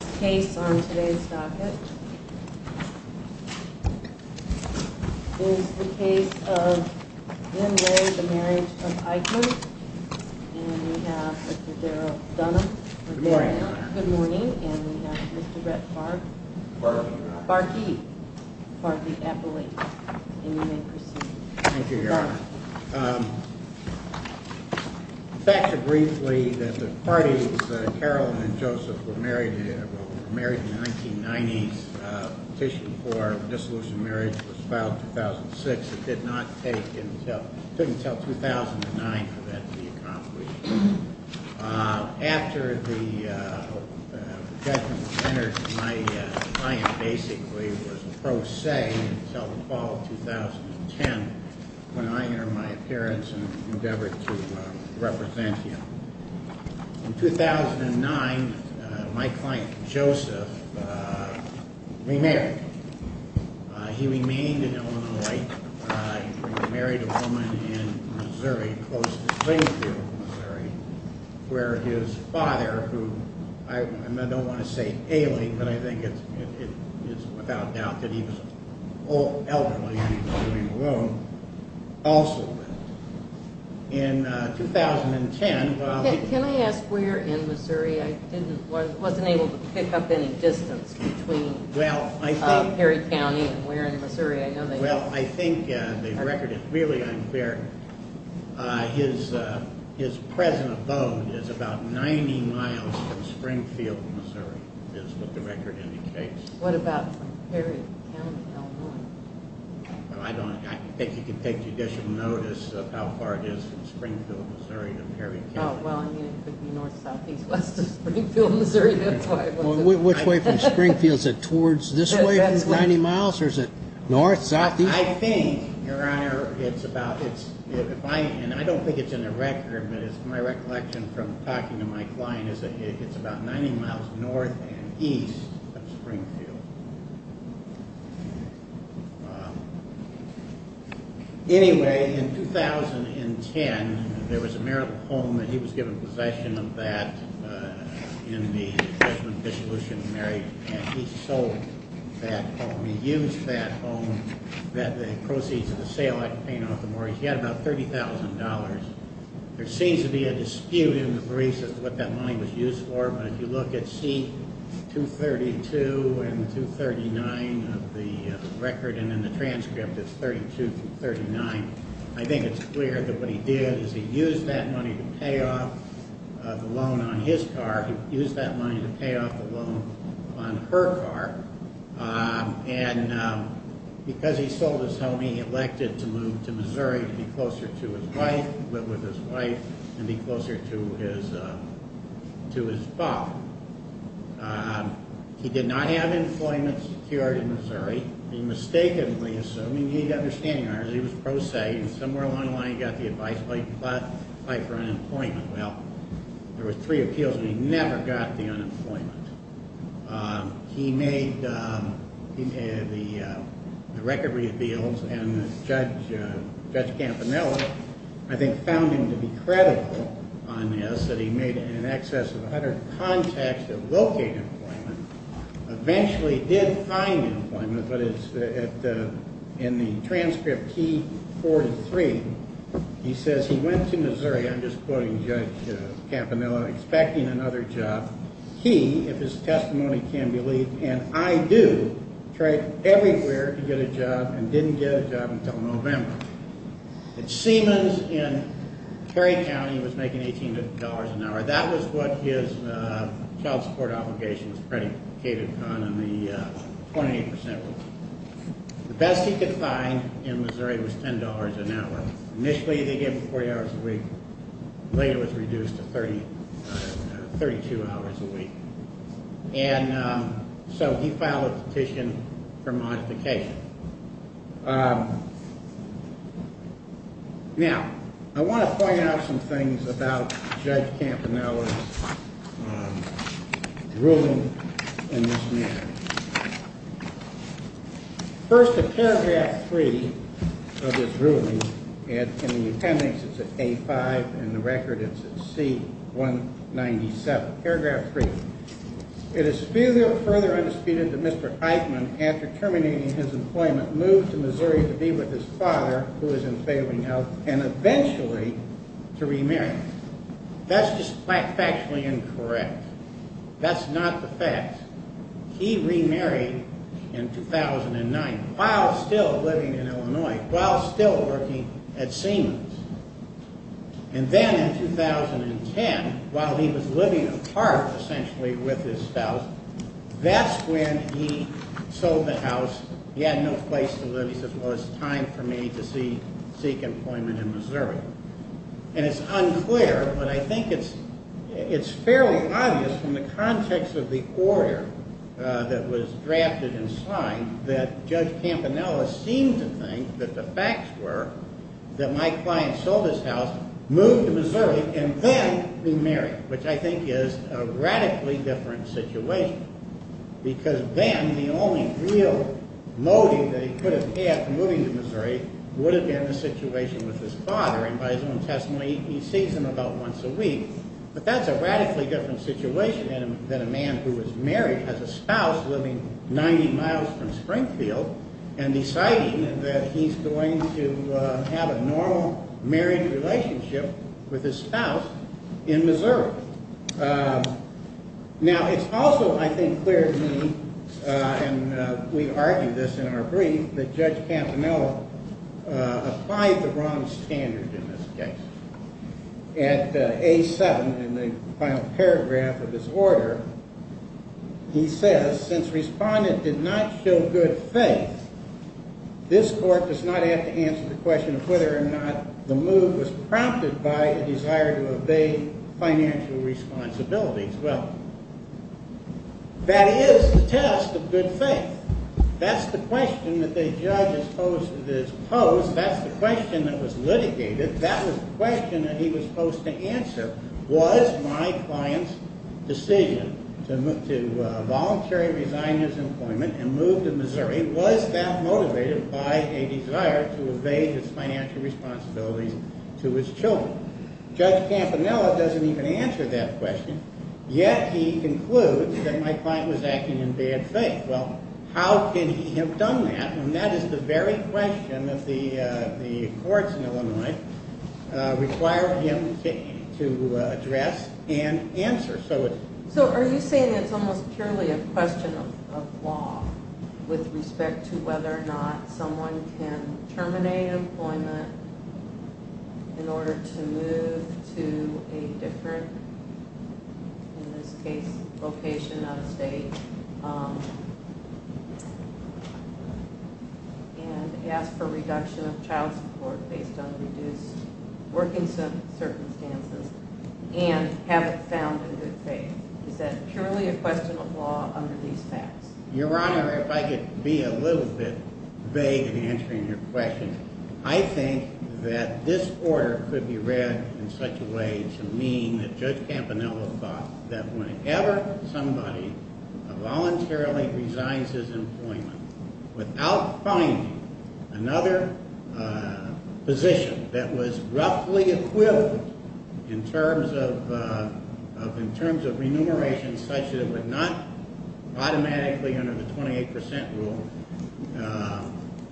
And we have Mr. Daryl Dunham. Good morning, Your Honor. And we have Mr. Brett Barth. Barth. Barthee. Barthee Eppley. And you may proceed. Thank you, Your Honor. Back to briefly that the parties, Carol and Joseph, were married in the 1990s. Petition for dissolution of marriage was filed in 2006. It did not take until 2009 for that to be accomplished. After the judgment was entered, my client basically was a pro se until the fall of 2010 when I entered my appearance and endeavored to represent him. In 2009, my client, Joseph, remarried. He remained in Illinois. He remarried a woman in Missouri, close to Springfield, Missouri, where his father, who I don't want to say ailing, but I think it is without doubt that he was elderly and he was living alone, also lived. Can I ask where in Missouri? I wasn't able to pick up any distance between Perry County and where in Missouri. Well, I think the record is really unclear. His present abode is about 90 miles from Springfield, Missouri, is what the record indicates. What about Perry County, Illinois? I think you can take judicial notice of how far it is from Springfield, Missouri to Perry County. Well, I mean, it could be north, south, east, west of Springfield, Missouri. Which way from Springfield? Is it towards this way, 90 miles, or is it north, south, east? I think, Your Honor, it's about, and I don't think it's in the record, but it's my recollection from talking to my client is that it's about 90 miles north and east of Springfield. Wow. Anyway, in 2010, there was a marital home and he was given possession of that in the judgment of dissolution of marriage, and he sold that home. He used that home, the proceeds of the sale, I can paint off the mortgage, he had about $30,000. There seems to be a dispute in the briefs as to what that money was used for, but if you look at C232 and 239 of the record and in the transcript, it's 32 through 39. I think it's clear that what he did is he used that money to pay off the loan on his car. He used that money to pay off the loan on her car, and because he sold his home, he elected to move to Missouri to be closer to his wife, live with his wife, and be closer to his father. He did not have employment secured in Missouri. He mistakenly assumed, and you need to understand, he was pro se, and somewhere along the line he got the advice to fight for unemployment. Well, there were three appeals and he never got the unemployment. He made the record reveals and Judge Campanella, I think, found him to be credible on this, that he made in excess of 100 contacts to locate employment, eventually did find employment, but in the transcript T43, he says he went to Missouri, I'm just quoting Judge Campanella, expecting another job. He, if his testimony can be believed, and I do, tried everywhere to get a job and didn't get a job until November. At Siemens in Perry County, he was making $18 an hour. That was what his child support obligations predicated on, and the 28% was. The best he could find in Missouri was $10 an hour. Initially they gave him 40 hours a week, later it was reduced to 32 hours a week, and so he filed a petition for modification. Now, I want to point out some things about Judge Campanella's ruling in this matter. First, in paragraph three of his ruling, in the attendance it's at A5, in the record it's at C197, paragraph three. It is further undisputed that Mr. Eichmann, after terminating his employment, moved to Missouri to be with his father, who was in failing health, and eventually to remarry. That's just factually incorrect. That's not the fact. He remarried in 2009 while still living in Illinois, while still working at Siemens. And then in 2010, while he was living apart essentially with his spouse, that's when he sold the house. He had no place to live. He said, well, it's time for me to seek employment in Missouri. And it's unclear, but I think it's fairly obvious from the context of the order that was drafted and signed that Judge Campanella seemed to think that the facts were that my client sold his house, moved to Missouri, and then remarried, which I think is a radically different situation. Because then the only real motive that he could have had for moving to Missouri would have been the situation with his father. And by his own testimony, he sees him about once a week. But that's a radically different situation than a man who was married, has a spouse living 90 miles from Springfield, and deciding that he's going to have a normal married relationship with his spouse in Missouri. Now, it's also, I think, clear to me, and we argue this in our brief, that Judge Campanella applied the wrong standard in this case. At A7, in the final paragraph of this order, he says, since Respondent did not show good faith, this court does not have to answer the question of whether or not the move was prompted by a desire to obey financial responsibilities. Well, that is the test of good faith. That's the question that the judge has posed. That's the question that was litigated. That was the question that he was supposed to answer. Was my client's decision to voluntarily resign his employment and move to Missouri, was that motivated by a desire to obey his financial responsibilities to his children? Well, Judge Campanella doesn't even answer that question, yet he concludes that my client was acting in bad faith. Well, how can he have done that? And that is the very question that the courts in Illinois require him to address and answer. So are you saying it's almost purely a question of law with respect to whether or not someone can terminate employment in order to move to a different, in this case, location out of state, and ask for reduction of child support based on reduced working circumstances, and have it found in good faith? Is that purely a question of law under these facts? Your Honor, if I could be a little bit vague in answering your question, I think that this order could be read in such a way to mean that Judge Campanella thought that whenever somebody voluntarily resigns his employment without finding another position that was roughly equivalent in terms of remuneration such that it would not automatically under the 28% rule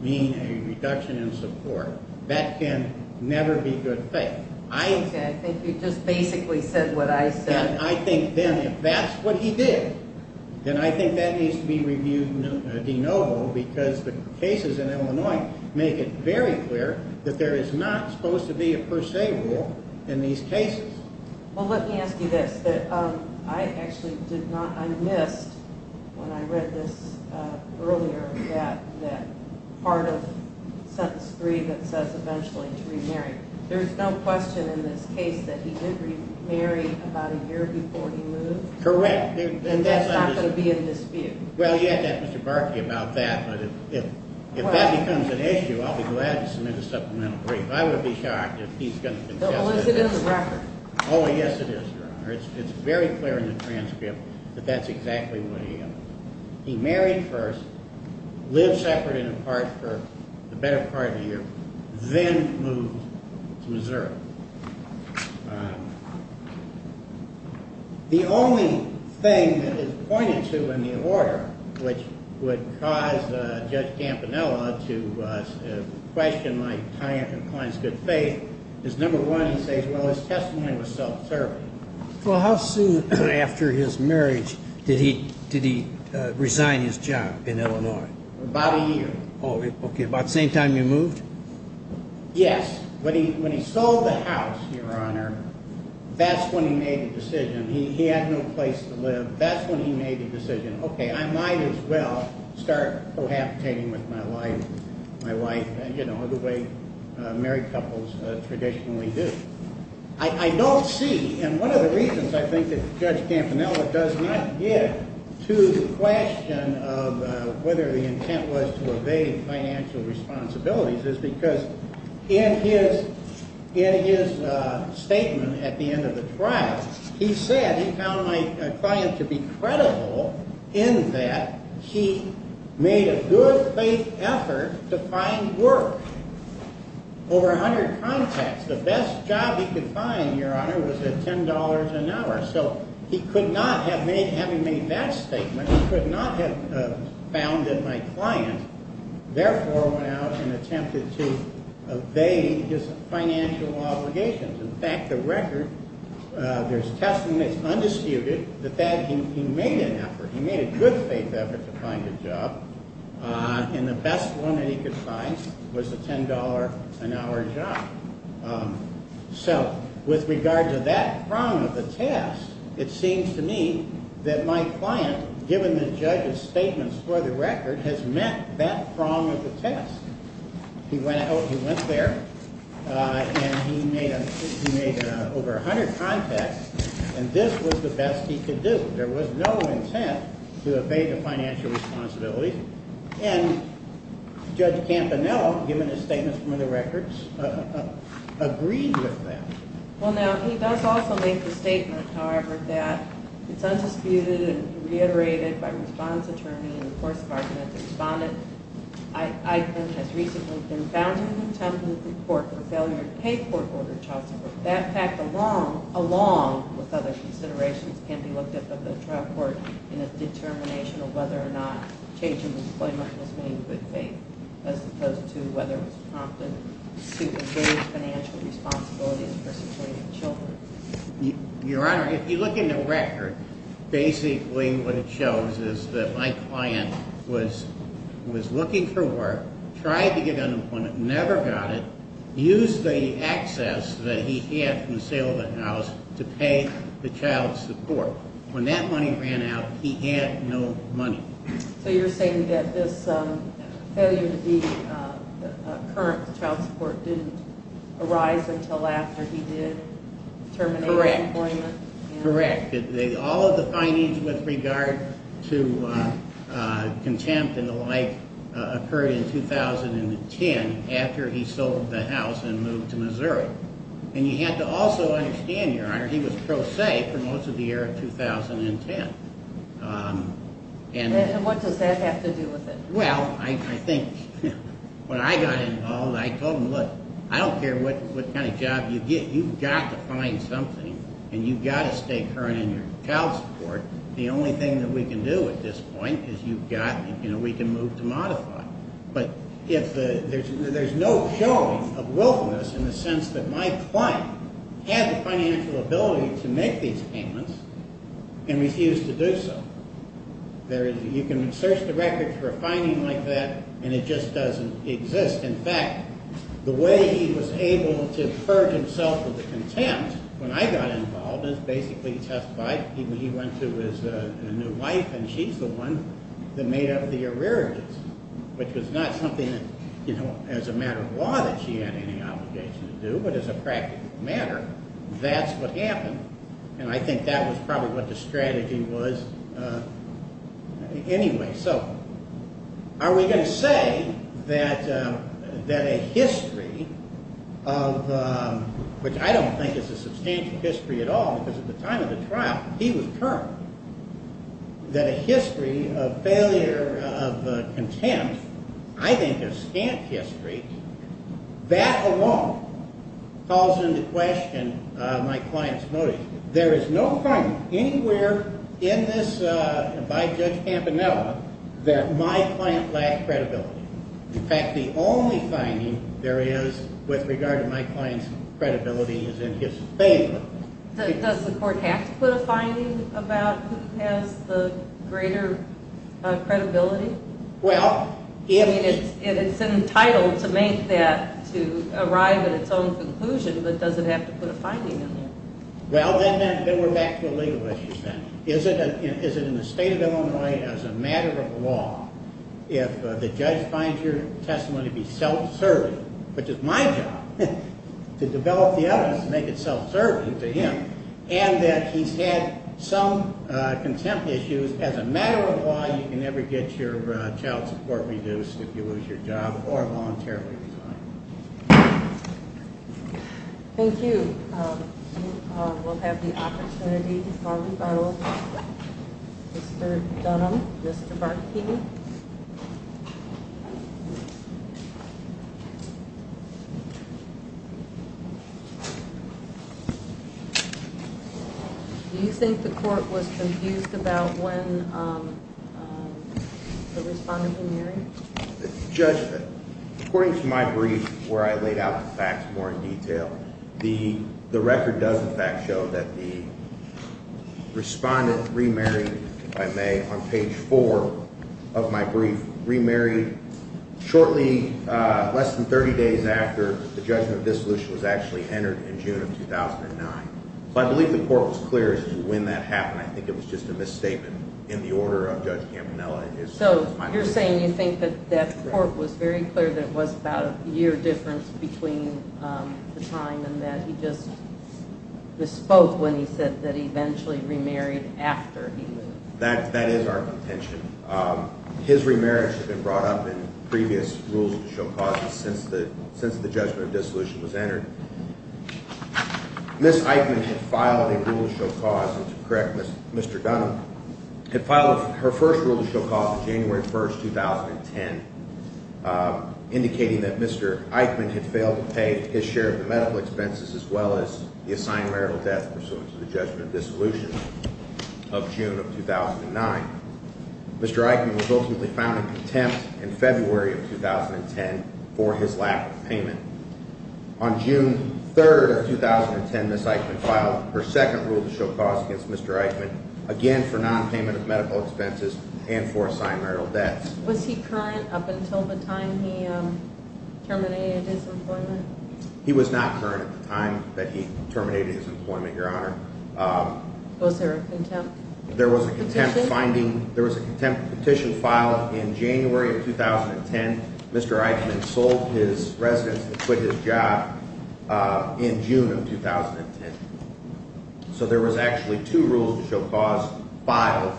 mean a reduction in support. That can never be good faith. Okay, I think you just basically said what I said. And I think then if that's what he did, then I think that needs to be reviewed de novo because the cases in Illinois make it very clear that there is not supposed to be a per se rule in these cases. Well, let me ask you this. I missed, when I read this earlier, that part of sentence three that says eventually to remarry. There's no question in this case that he did remarry about a year before he moved? Correct. And that's not going to be in dispute? Well, you'd have to ask Mr. Barkley about that, but if that becomes an issue, I'll be glad to submit a supplemental brief. I would be shocked if he's going to contest it. Well, is it in the record? Oh, yes, it is, Your Honor. It's very clear in the transcript that that's exactly what he did. He married first, lived separate and apart for the better part of a year, then moved to Missouri. The only thing that is pointed to in the order which would cause Judge Campanella to question my client's good faith is number one, he says, well, his testimony was self-serving. Well, how soon after his marriage did he resign his job in Illinois? About a year. Okay, about the same time he moved? Yes. When he sold the house, Your Honor, that's when he made the decision. He had no place to live. That's when he made the decision. Okay, I might as well start cohabitating with my wife, you know, the way married couples traditionally do. I don't see, and one of the reasons I think that Judge Campanella does not get to the question of whether the intent was to evade financial responsibilities is because in his statement at the end of the trial, he said he found my client to be credible in that he made a good faith effort to find work. Over 100 contacts. The best job he could find, Your Honor, was at $10 an hour. So he could not have made, having made that statement, he could not have founded my client, therefore went out and attempted to evade his financial obligations. In fact, the record, there's testimony that's undisputed that he made an effort, he made a good faith effort to find a job, and the best one that he could find was a $10 an hour job. So with regard to that prong of the test, it seems to me that my client, given the judge's statements for the record, has met that prong of the test. He went out, he went there, and he made over 100 contacts, and this was the best he could do. There was no intent to evade the financial responsibility, and Judge Campanello, given his statements from the records, agreed with that. Well, now, he does also make the statement, however, that it's undisputed and reiterated by response attorney and enforcement department that the respondent has recently been found to have attempted to report the failure to pay court-ordered child support. That fact, along with other considerations, can be looked at by the trial court in a determination of whether or not change in the disclaimer has made good faith, as opposed to whether it's prompted to evade financial responsibilities for supporting children. Your Honor, if you look in the record, basically what it shows is that my client was looking for work, tried to get an employment, never got it, used the access that he had from the sale of the house to pay the child support. When that money ran out, he had no money. So you're saying that this failure to be current child support didn't arise until after he did terminate employment? Correct. Correct. All of the findings with regard to contempt and the like occurred in 2010, after he sold the house and moved to Missouri. And you have to also understand, Your Honor, he was pro se for most of the year of 2010. And what does that have to do with it? Well, I think when I got involved, I told him, look, I don't care what kind of job you get, you've got to find something and you've got to stay current in your child support. The only thing that we can do at this point is you've got, you know, we can move to modify. But there's no showing of willfulness in the sense that my client had the financial ability to make these payments and refused to do so. You can search the records for a finding like that, and it just doesn't exist. In fact, the way he was able to purge himself of the contempt when I got involved is basically testified. He went to his new wife, and she's the one that made up the arrearages, which was not something that, you know, as a matter of law that she had any obligation to do, but as a practical matter, that's what happened. And I think that was probably what the strategy was anyway. So are we going to say that a history of – which I don't think is a substantial history at all because at the time of the trial, he was current – that a history of failure of contempt, I think a scant history, that alone calls into question my client's motive. There is no finding anywhere in this by Judge Campanella that my client lacked credibility. In fact, the only finding there is with regard to my client's credibility is in his favor. Does the court have to put a finding about who has the greater credibility? Well, if – I mean, it's entitled to make that, to arrive at its own conclusion, but does it have to put a finding in there? Well, then we're back to the legal issues then. Is it in the state of Illinois, as a matter of law, if the judge finds your testimony to be self-serving, which is my job, to develop the evidence to make it self-serving to him, and that he's had some contempt issues, as a matter of law, you can never get your child support reduced if you lose your job or voluntarily resign. Thank you. We'll have the opportunity to call rebuttal. Mr. Dunham, Mr. Barkey. Do you think the court was confused about when the respondent was married? The judgment – according to my brief, where I laid out the facts more in detail, the record does, in fact, show that the respondent remarried, if I may, on page 4 of my brief, remarried shortly less than 30 days after the judgment of dissolution was actually entered in June of 2009. So I believe the court was clear as to when that happened. I think it was just a misstatement in the order of Judge Campanella. So you're saying you think that that court was very clear that it was about a year difference between the time and that he just bespoke when he said that he eventually remarried after he left? That is our contention. His remarriage had been brought up in previous rules of the show causes since the judgment of dissolution was entered. Ms. Eichmann had filed a rule of show cause – and to correct Mr. Dunham – had filed her first rule of show cause on January 1, 2010, indicating that Mr. Eichmann had failed to pay his share of the medical expenses as well as the assigned marital debt pursuant to the judgment of dissolution of June of 2009. Mr. Eichmann was ultimately found in contempt in February of 2010 for his lack of payment. On June 3, 2010, Ms. Eichmann filed her second rule of show cause against Mr. Eichmann, again for nonpayment of medical expenses and for assigned marital debts. Was he current up until the time he terminated his employment? He was not current at the time that he terminated his employment, Your Honor. Was there a contempt petition? There was a contempt petition filed in January of 2010. Mr. Eichmann sold his residence and quit his job in June of 2010. So there was actually two rules of show cause filed.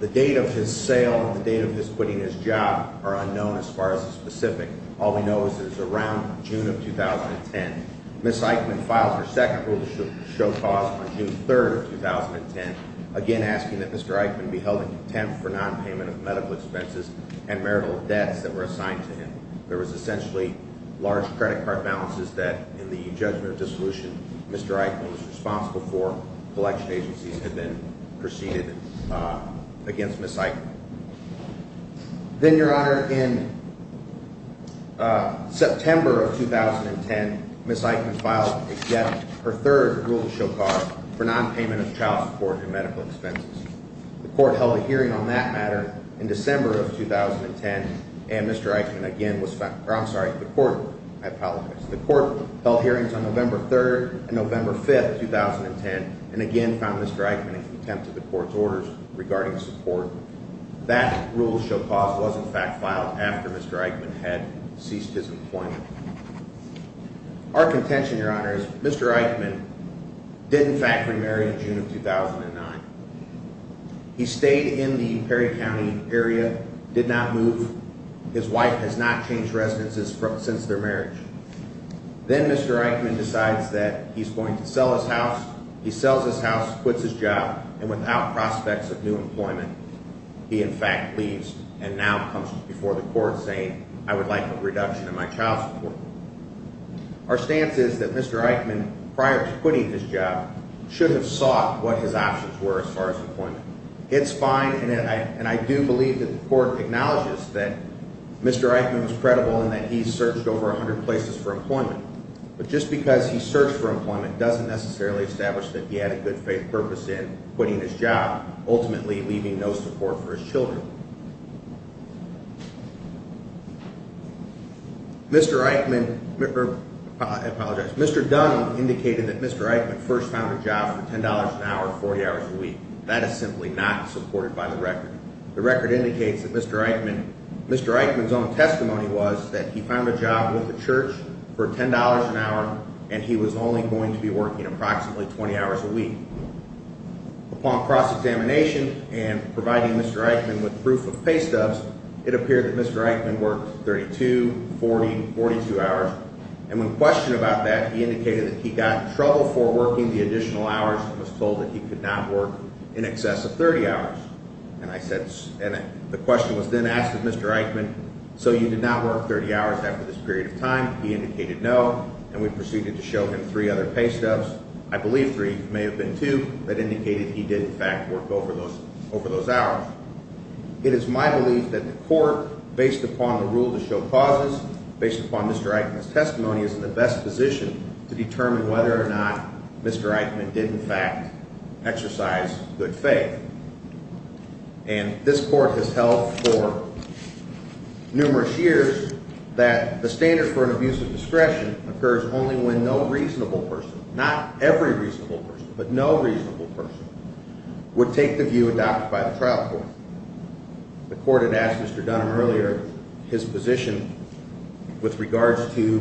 The date of his sale and the date of his quitting his job are unknown as far as the specific. All we know is that it was around June of 2010. Ms. Eichmann filed her second rule of show cause on June 3, 2010, again asking that Mr. Eichmann be held in contempt for nonpayment of medical expenses and marital debts that were assigned to him. There was essentially large credit card balances that, in the judgment of dissolution, Mr. Eichmann was responsible for. Collection agencies had then proceeded against Ms. Eichmann. Then, Your Honor, in September of 2010, Ms. Eichmann filed yet her third rule of show cause for nonpayment of child support and medical expenses. The court held a hearing on that matter in December of 2010, and Mr. Eichmann again was found – or I'm sorry, the court – I apologize. That rule of show cause was, in fact, filed after Mr. Eichmann had ceased his employment. Our contention, Your Honor, is Mr. Eichmann did, in fact, remarry in June of 2009. He stayed in the Perry County area, did not move. His wife has not changed residences since their marriage. Then Mr. Eichmann decides that he's going to sell his house. He sells his house, quits his job, and without prospects of new employment, he, in fact, leaves and now comes before the court saying, I would like a reduction in my child support. Our stance is that Mr. Eichmann, prior to quitting his job, should have sought what his options were as far as employment. It's fine, and I do believe that the court acknowledges that Mr. Eichmann was credible and that he searched over 100 places for employment. But just because he searched for employment doesn't necessarily establish that he had a good faith purpose in quitting his job, ultimately leaving no support for his children. Mr. Eichmann – I apologize. Mr. Dunn indicated that Mr. Eichmann first found a job for $10 an hour, 40 hours a week. That is simply not supported by the record. The record indicates that Mr. Eichmann – Mr. Eichmann's own testimony was that he found a job with the church for $10 an hour, and he was only going to be working approximately 20 hours a week. Upon cross-examination and providing Mr. Eichmann with proof of pay stubs, it appeared that Mr. Eichmann worked 32, 40, 42 hours. And when questioned about that, he indicated that he got in trouble for working the additional hours and was told that he could not work in excess of 30 hours. And I said – and the question was then asked of Mr. Eichmann, so you did not work 30 hours after this period of time? He indicated no, and we proceeded to show him three other pay stubs. I believe three. It may have been two that indicated he did, in fact, work over those hours. It is my belief that the court, based upon the rule to show causes, based upon Mr. Eichmann's testimony, is in the best position to determine whether or not Mr. Eichmann did, in fact, exercise good faith. And this court has held for numerous years that the standard for an abuse of discretion occurs only when no reasonable person – not every reasonable person, but no reasonable person – would take the view adopted by the trial court. The court had asked Mr. Dunham earlier his position with regards to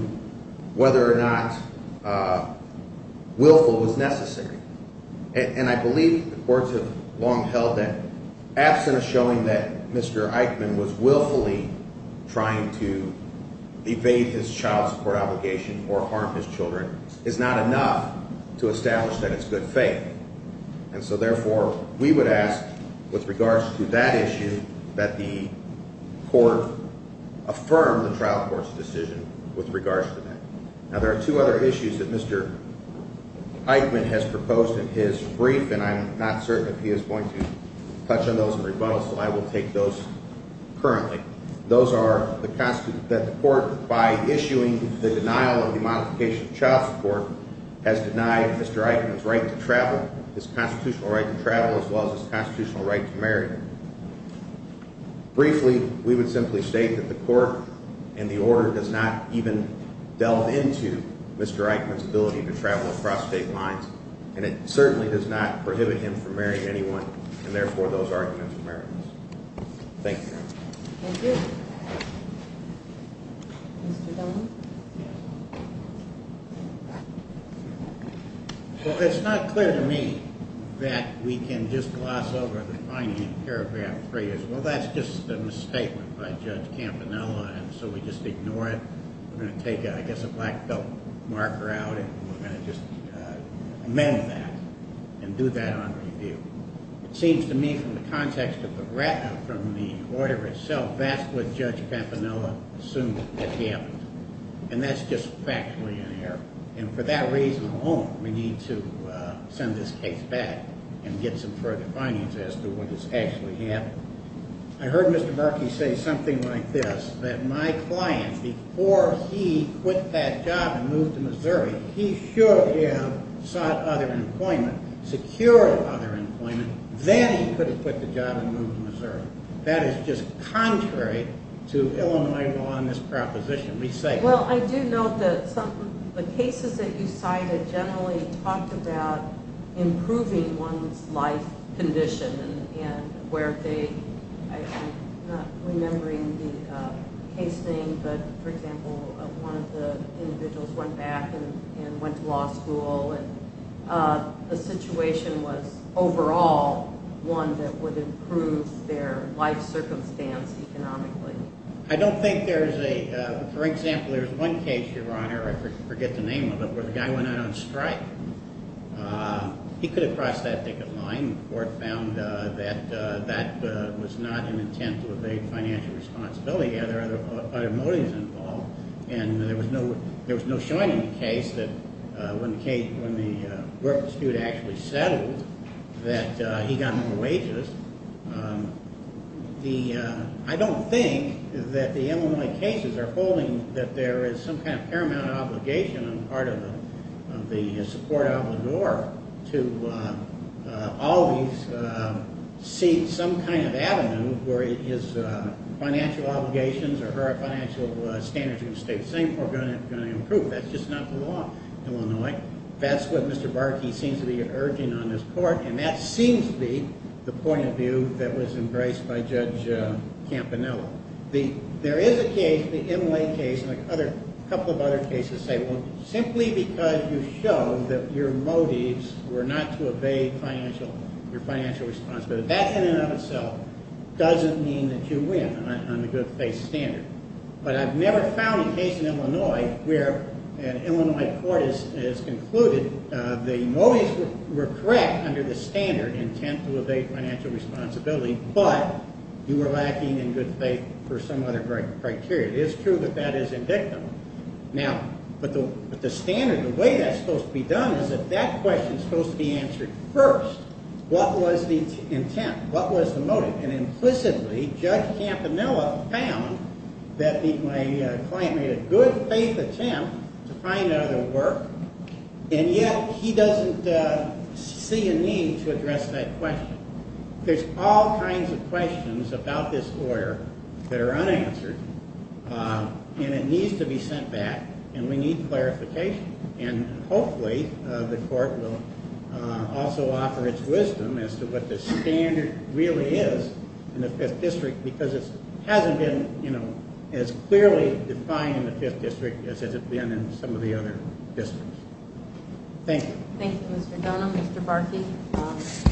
whether or not willful was necessary. And I believe the courts have long held that absent a showing that Mr. Eichmann was willfully trying to evade his child support obligation or harm his children is not enough to establish that it's good faith. And so, therefore, we would ask with regards to that issue that the court affirm the trial court's decision with regards to that. Now, there are two other issues that Mr. Eichmann has proposed in his brief, and I'm not certain if he is going to touch on those in rebuttal, so I will take those currently. Those are that the court, by issuing the denial of the modification of child support, has denied Mr. Eichmann's right to travel, his constitutional right to travel, as well as his constitutional right to marry. Briefly, we would simply state that the court and the order does not even delve into Mr. Eichmann's ability to travel across state lines, and it certainly does not prohibit him from marrying anyone, and therefore those arguments are meritless. Thank you. Thank you. Mr. Dunn? Well, it's not clear to me that we can just gloss over the finding in paragraph three as, well, that's just a misstatement by Judge Campanella, and so we just ignore it. We're going to take, I guess, a black belt marker out, and we're going to just amend that and do that on review. It seems to me from the context of the order itself, that's what Judge Campanella assumed had happened, and that's just factually in error, and for that reason alone, we need to send this case back and get some further findings as to what has actually happened. I heard Mr. Murky say something like this, that my client, before he quit that job and moved to Missouri, he should have sought other employment, secured other employment, then he could have quit the job and moved to Missouri. That is just contrary to Illinois law in this proposition. Well, I do note that some of the cases that you cited generally talked about improving one's life condition, and where they, I'm not remembering the case name, but, for example, one of the individuals went back and went to law school, and the situation was overall one that would improve their life circumstance economically. I don't think there's a, for example, there's one case, Your Honor, I forget the name of it, where the guy went out on strike. He could have crossed that ticket line. The court found that that was not an intent to evade financial responsibility. He had other motives involved, and there was no showing in the case that when the work dispute actually settled that he got more wages. I don't think that the Illinois cases are holding that there is some kind of paramount obligation on the part of the support obligor to always see some kind of avenue where his financial obligations or her financial standards are going to stay the same, or going to improve. That's just not the law in Illinois. That's what Mr. Barkey seems to be urging on this court, and that seems to be the point of view that was embraced by Judge Campanella. There is a case, the Inlay case, and a couple of other cases say, well, simply because you show that your motives were not to evade your financial responsibility, that in and of itself doesn't mean that you win on the good faith standard. But I've never found a case in Illinois where an Illinois court has concluded the motives were correct under the standard intent to evade financial responsibility, but you were lacking in good faith for some other criteria. It is true that that is indicative. Now, with the standard, the way that's supposed to be done is that that question is supposed to be answered first. What was the motive? And implicitly, Judge Campanella found that the client made a good faith attempt to find another work, and yet he doesn't see a need to address that question. There's all kinds of questions about this lawyer that are unanswered, and it needs to be sent back, and we need clarification. And hopefully the court will also offer its wisdom as to what the standard really is in the Fifth District, because it hasn't been as clearly defined in the Fifth District as it's been in some of the other districts. Thank you. Thank you, Mr. Dunham. Mr. Barkey,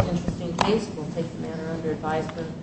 interesting case. We'll take the matter under advisement.